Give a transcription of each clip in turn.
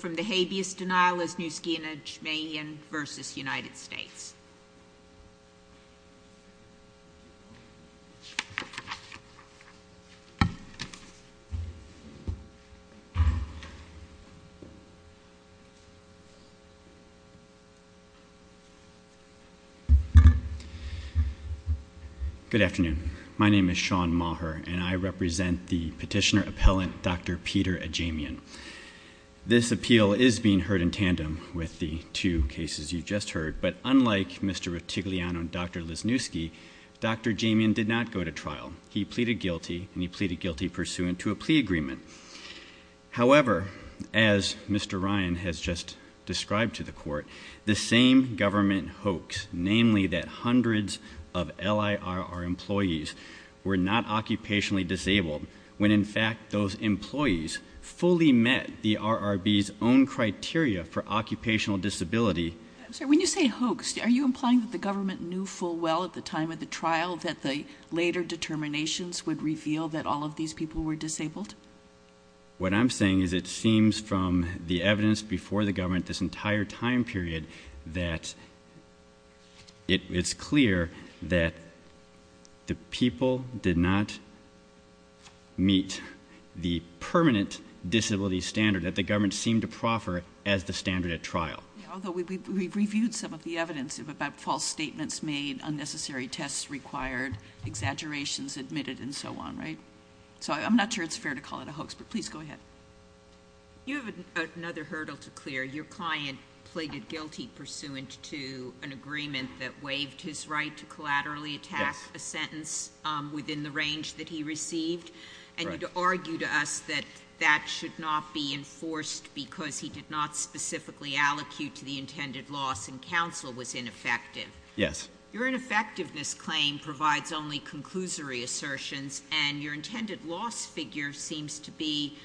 from the habeas denial, Asniewski and Ajamian v. United States. Good afternoon. My name is Sean Maher and I represent the petitioner-appellant Dr. Peter Ajamian. This appeal is being heard in tandem with the two cases you just heard, but unlike Mr. Rotigliano and Dr. Lesniewski, Dr. Ajamian did not go to trial. He pleaded guilty and he pleaded guilty pursuant to a plea agreement. However, as Mr. Ryan has just described to the court, the same government hoax, namely that hundreds of LIRR employees were not occupationally employees, fully met the RRB's own criteria for occupational disability. I'm sorry, when you say hoaxed, are you implying that the government knew full well at the time of the trial that the later determinations would reveal that all of these people were disabled? What I'm saying is it seems from the evidence before the government this entire time period that it's clear that the people did not meet the permanent disability standard that the government seemed to proffer as the standard at trial. Although we've reviewed some of the evidence about false statements made, unnecessary tests required, exaggerations admitted and so on, right? So I'm not sure it's fair to call it a hoax, but please go ahead. You have another hurdle to clear. Your client pleaded guilty pursuant to an agreement that waived his right to collaterally attack a sentence within the range that he received and you'd argue to us that that should not be enforced because he did not specifically allocate to the intended loss and counsel was ineffective. Yes. Your ineffectiveness claim provides only conclusory assertions and your intended loss figure seems to be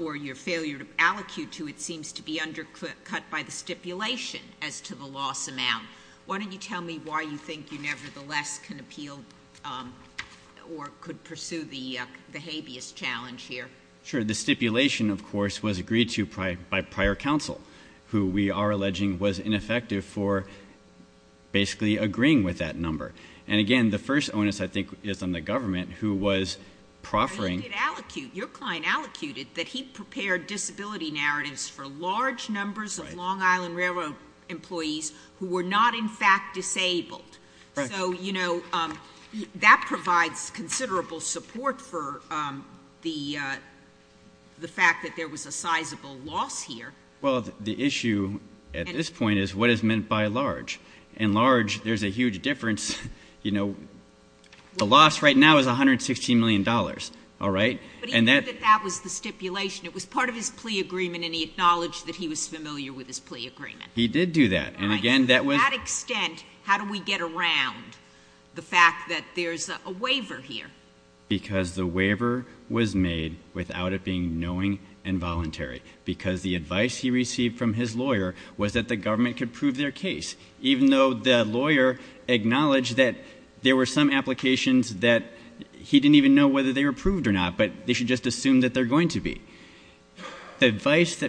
or your failure to allocate to it seems to be undercut by the stipulation as to the loss amount. Why don't you tell me why you think you nevertheless can appeal or could pursue the habeas challenge here? Sure. The stipulation of course was agreed to by prior counsel who we are alleging was ineffective for basically agreeing with that number. And again, the first onus I think is on the government who was proffering. Your client allocated that he prepared disability narratives for large numbers of Long Island Railroad employees who were not in fact disabled. So, you know, that provides considerable support for the fact that there was a sizable loss here. Well, the issue at this point is what is meant by large. In large, there's a huge difference. You know, the loss right now is $116 million. All right. And that was the stipulation. It was part of his plea agreement and he acknowledged that he was familiar with his plea agreement. He did do that. And again, that was extent. How do we get around the fact that there's a waiver here? Because the waiver was made without it being knowing and voluntary because the advice he received from his lawyer was that the government could prove their case. Even though the lawyer acknowledged that there were some applications that he didn't even know whether they were approved or not, but they should just assume that they're going to be. The advice that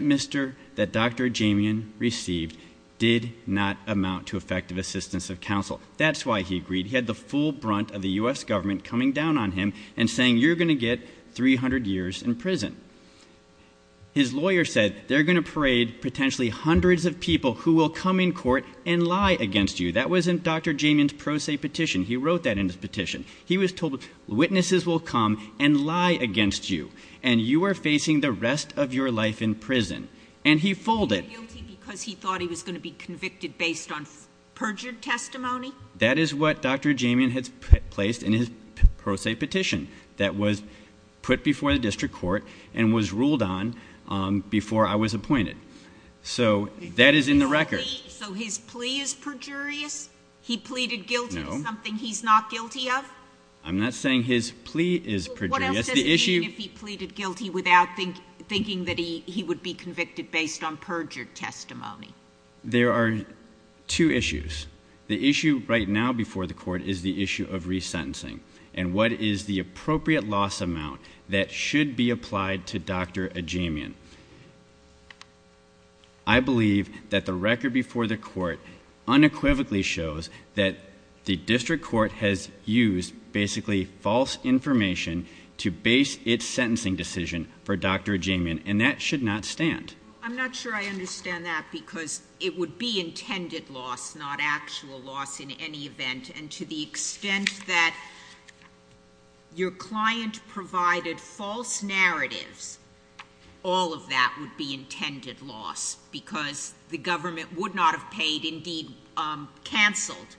Dr. Jamian received did not amount to effective assistance of counsel. That's why he agreed. He had the full brunt of the US government coming down on him and saying you're going to get 300 years in prison. His lawyer said they're going to parade potentially hundreds of people who will come in court and lie against you. That was in Dr. Jamian's pro se petition. He wrote that in his petition. He was told witnesses will come and lie against you. And you are facing the rest of your life in prison. And he folded. He was guilty because he thought he was going to be convicted based on perjured testimony? That is what Dr. Jamian has placed in his pro se petition that was put before the district court and was ruled on before I was appointed. So that is in the record. So his plea is perjurious? He pleaded guilty to something he's not guilty of? I'm not saying his plea is perjurious. The issue- What else does it mean if he pleaded guilty without thinking that he would be convicted based on perjured testimony? There are two issues. The issue right now before the court is the issue of resentencing. And what is the appropriate loss amount that should be applied to Dr. Jamian? I believe that the record before the court unequivocally shows that the district court has used basically false information to base its sentencing decision for Dr. Jamian. And that should not stand. I'm not sure I understand that because it would be intended loss, not actual loss in any event. And to the extent that your client provided false narratives, all of that would be intended loss because the government would not have paid, indeed canceled,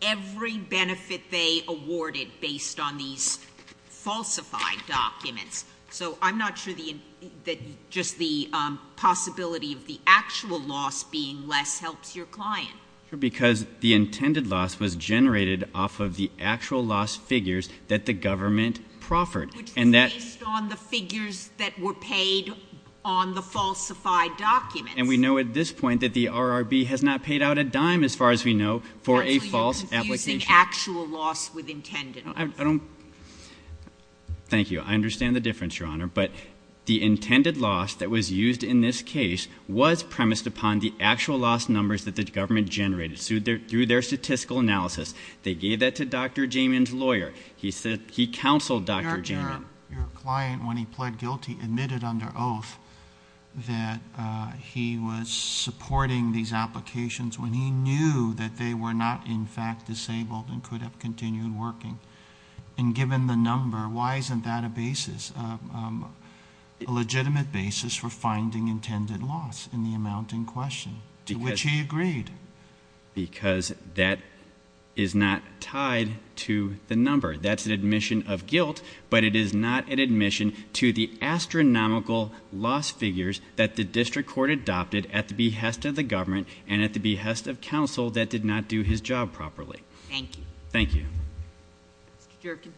every benefit they awarded based on these falsified documents. So I'm not sure that just the possibility of the actual loss being less helps your client. Because the intended loss was generated off of the actual loss figures that the government proffered. Which were based on the figures that were paid on the falsified documents. And we know at this point that the RRB has not paid out a dime, as far as we know, for a false application. Actually, you're confusing actual loss with intended loss. Thank you. I understand the difference, your honor, but the intended loss that was used in this case was premised upon the actual loss numbers that the government generated through their statistical analysis. They gave that to Dr. Jamin's lawyer. He said, he counseled Dr. Jamin. Your client, when he pled guilty, admitted under oath that he was supporting these applications when he knew that they were not in fact disabled and could have continued working. And given the number, why isn't that a basis, a legitimate basis for finding intended loss in the amount in question, to which he agreed? Because that is not tied to the number. That's an admission of guilt, but it is not an admission to the astronomical loss figures that the district court adopted at the behest of the government and at the behest of counsel that did not do his job properly. Thank you. Thank you. Mr. Jerkin.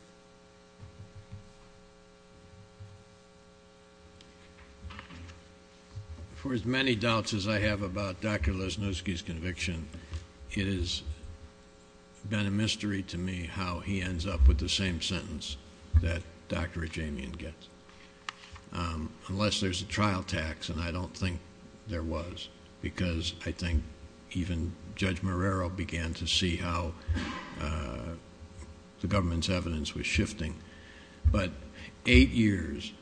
For as many doubts as I have about Dr. Lesnowski's conviction, it has been a mystery to me how he ends up with the same sentence that Dr. Jamin gets. Unless there's a trial tax, and I don't think there was, because I think even Judge Marrero began to see how the government's evidence was shifting. But eight years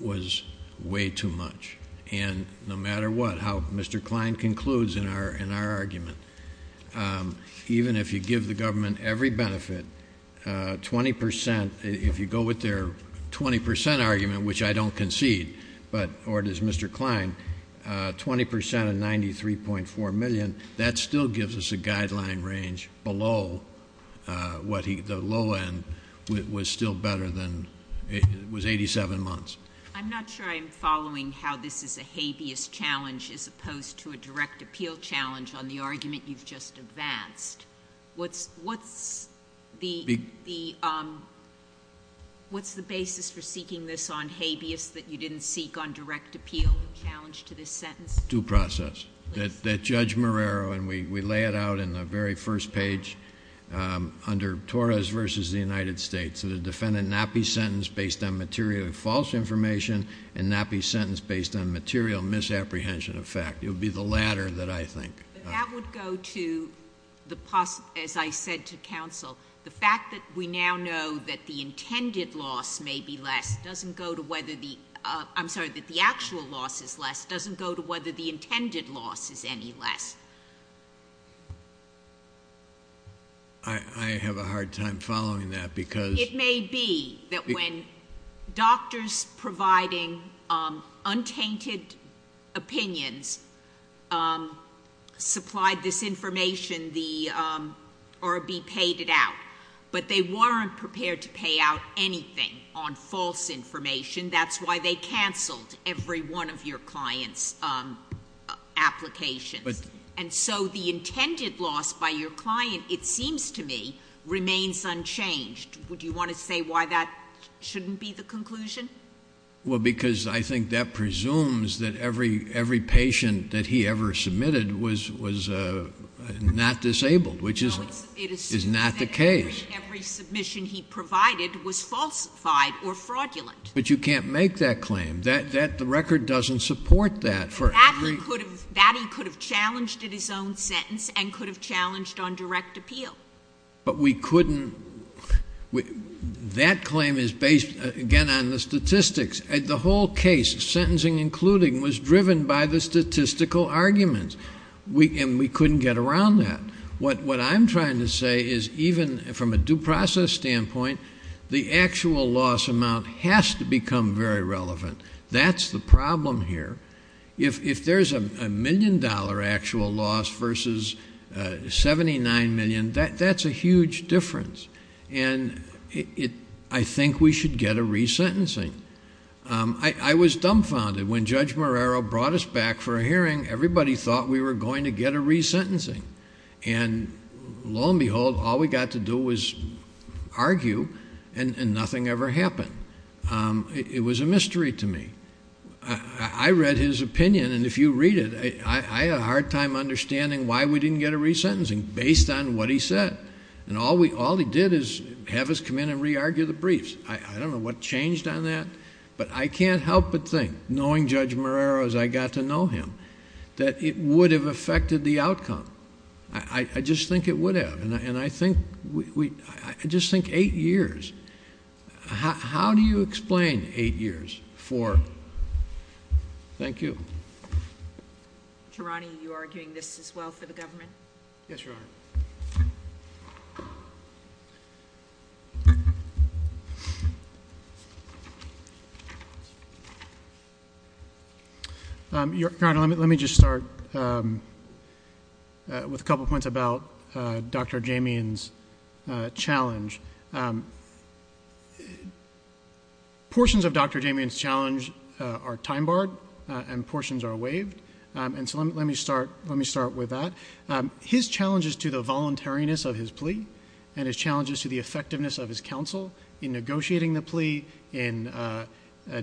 was way too much. And no matter what, how Mr. Klein concludes in our argument, even if you give the government every benefit, 20%, if you go with their 20% argument, which I don't concede, or does Mr. Klein, 20% of 93.4 million, that still gives us a guideline range below what the low end was still better than, it was 87 months. I'm not sure I'm following how this is a habeas challenge as opposed to a direct appeal challenge on the argument you've just advanced. What's the basis for seeking this on habeas that you didn't seek on direct appeal challenge to this sentence? Due process. That Judge Marrero, and we lay it out in the very first page under Torres versus the United States. That a defendant not be sentenced based on material false information and not be sentenced based on material misapprehension of fact. It would be the latter that I think. That would go to the, as I said to counsel, the fact that we now know that the intended loss may be less doesn't go to whether the, I'm sorry, that the actual loss is less doesn't go to whether the intended loss is any less. I have a hard time following that because- It may be that when doctors providing untainted opinions supplied this information, the RB paid it out, but they weren't prepared to pay out anything on false information. That's why they canceled every one of your client's applications. And so the intended loss by your client, it seems to me, remains unchanged. Would you want to say why that shouldn't be the conclusion? Well, because I think that presumes that every patient that he ever submitted was not disabled, which is not the case. No, it assumes that every submission he provided was falsified or fraudulent. But you can't make that claim. The record doesn't support that. And that he could have challenged in his own sentence and could have challenged on direct appeal. But we couldn't, that claim is based, again, on the statistics. The whole case, sentencing including, was driven by the statistical arguments, and we couldn't get around that. What I'm trying to say is even from a due process standpoint, the actual loss amount has to become very relevant, that's the problem here. If there's a million dollar actual loss versus 79 million, that's a huge difference. And I think we should get a re-sentencing. I was dumbfounded when Judge Marrero brought us back for a hearing, everybody thought we were going to get a re-sentencing. And lo and behold, all we got to do was argue, and nothing ever happened. It was a mystery to me. I read his opinion, and if you read it, I had a hard time understanding why we didn't get a re-sentencing based on what he said. And all he did is have us come in and re-argue the briefs. I don't know what changed on that, but I can't help but think, knowing Judge Marrero as I got to know him, that it would have affected the outcome. I just think it would have, and I think, I just think eight years. How do you explain eight years for, thank you. Geronimo, you are doing this as well for the government? Yes, Your Honor. Your Honor, let me just start with a couple points about Dr. Portions of Dr. Damien's challenge are time barred, and portions are waived. And so let me start with that. His challenges to the voluntariness of his plea, and his challenges to the effectiveness of his counsel in negotiating the plea, in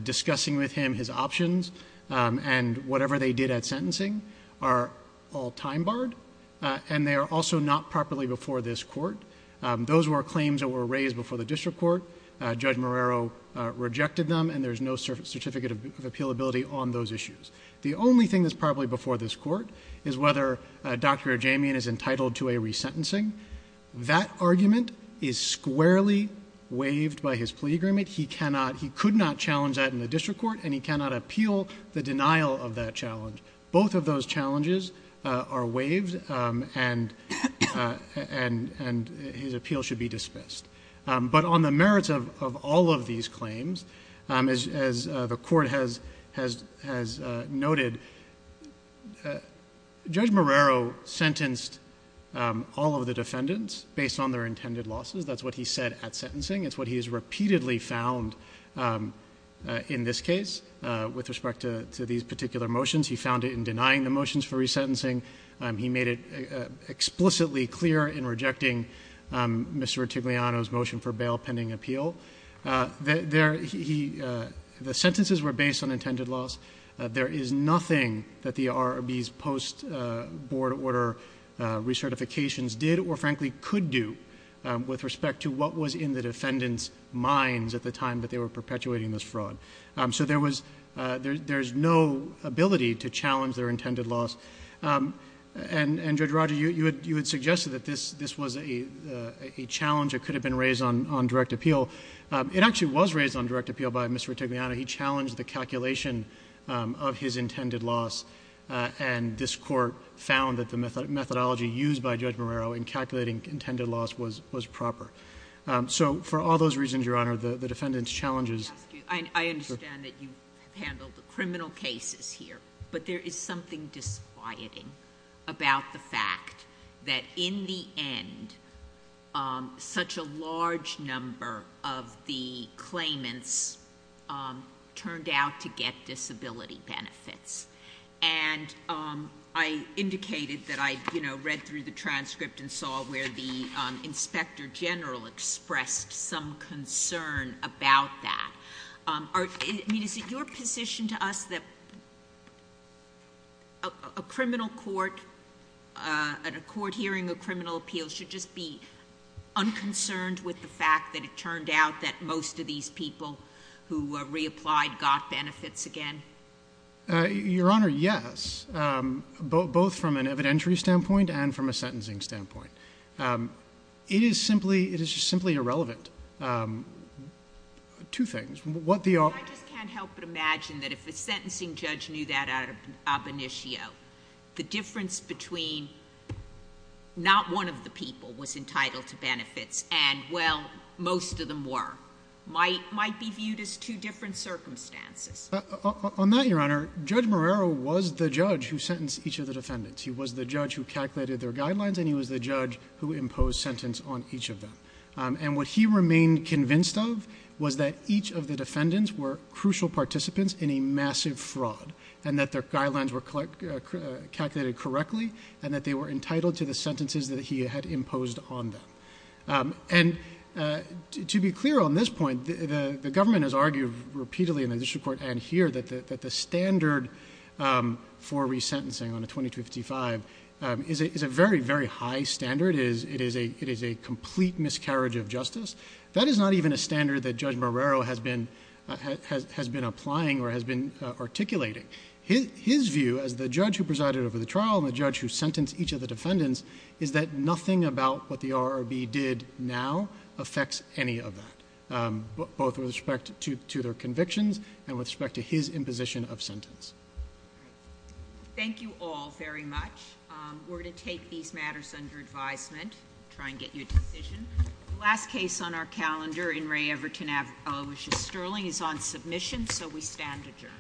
discussing with him his options, and whatever they did at sentencing are all time barred, and they are also not properly before this court. Those were claims that were raised before the district court. Judge Marrero rejected them, and there's no certificate of appealability on those issues. The only thing that's properly before this court is whether Dr. Damien is entitled to a resentencing. That argument is squarely waived by his plea agreement. He could not challenge that in the district court, and he cannot appeal the denial of that challenge. Both of those challenges are waived, and his appeal should be dismissed. But on the merits of all of these claims, as the court has noted, Judge Marrero sentenced all of the defendants based on their intended losses. That's what he said at sentencing. It's what he has repeatedly found in this case with respect to these particular motions. He found it in denying the motions for resentencing. He made it explicitly clear in rejecting Mr. Titigliano's motion for bail pending appeal. The sentences were based on intended loss. There is nothing that the RRB's post-board order recertifications did or frankly could do with respect to what was in the defendant's minds at the time that they were perpetuating this fraud. So there's no ability to challenge their intended loss. And Judge Roger, you had suggested that this was a challenge that could have been raised on direct appeal. It actually was raised on direct appeal by Mr. Titigliano. He challenged the calculation of his intended loss, and this court found that the methodology used by Judge Marrero in calculating intended loss was proper. So for all those reasons, Your Honor, the defendant's challenges- I understand that you have handled the criminal cases here. But there is something disquieting about the fact that in the end, such a large number of the claimants turned out to get disability benefits. And I indicated that I read through the transcript and I saw where the Inspector General expressed some concern about that. I mean, is it your position to us that a criminal court, at a court hearing, a criminal appeal should just be unconcerned with the fact that it turned out that most of these people who reapplied got benefits again? Your Honor, yes, both from an evidentiary standpoint and from a sentencing standpoint. It is simply irrelevant. Two things, what the- I just can't help but imagine that if the sentencing judge knew that out of ab initio, the difference between not one of the people was entitled to benefits and well, most of them were, might be viewed as two different circumstances. On that, Your Honor, Judge Marrero was the judge who sentenced each of the defendants. He was the judge who calculated their guidelines, and he was the judge who imposed sentence on each of them. And what he remained convinced of was that each of the defendants were crucial participants in a massive fraud. And that their guidelines were calculated correctly, and that they were entitled to the sentences that he had imposed on them. And to be clear on this point, the government has argued repeatedly in the district court and here that the standard for resentencing on a 2255 is a very, very high standard. It is a complete miscarriage of justice. That is not even a standard that Judge Marrero has been applying or has been articulating. His view as the judge who presided over the trial and the judge who sentenced each of the defendants is that nothing about what the RRB did now affects any of that. Both with respect to their convictions and with respect to his imposition of sentence. Thank you all very much. We're going to take these matters under advisement, try and get you a decision. Last case on our calendar in Ray Everton, Aloysius Sterling is on submission, so we stand adjourned. We're going to stand adjourned.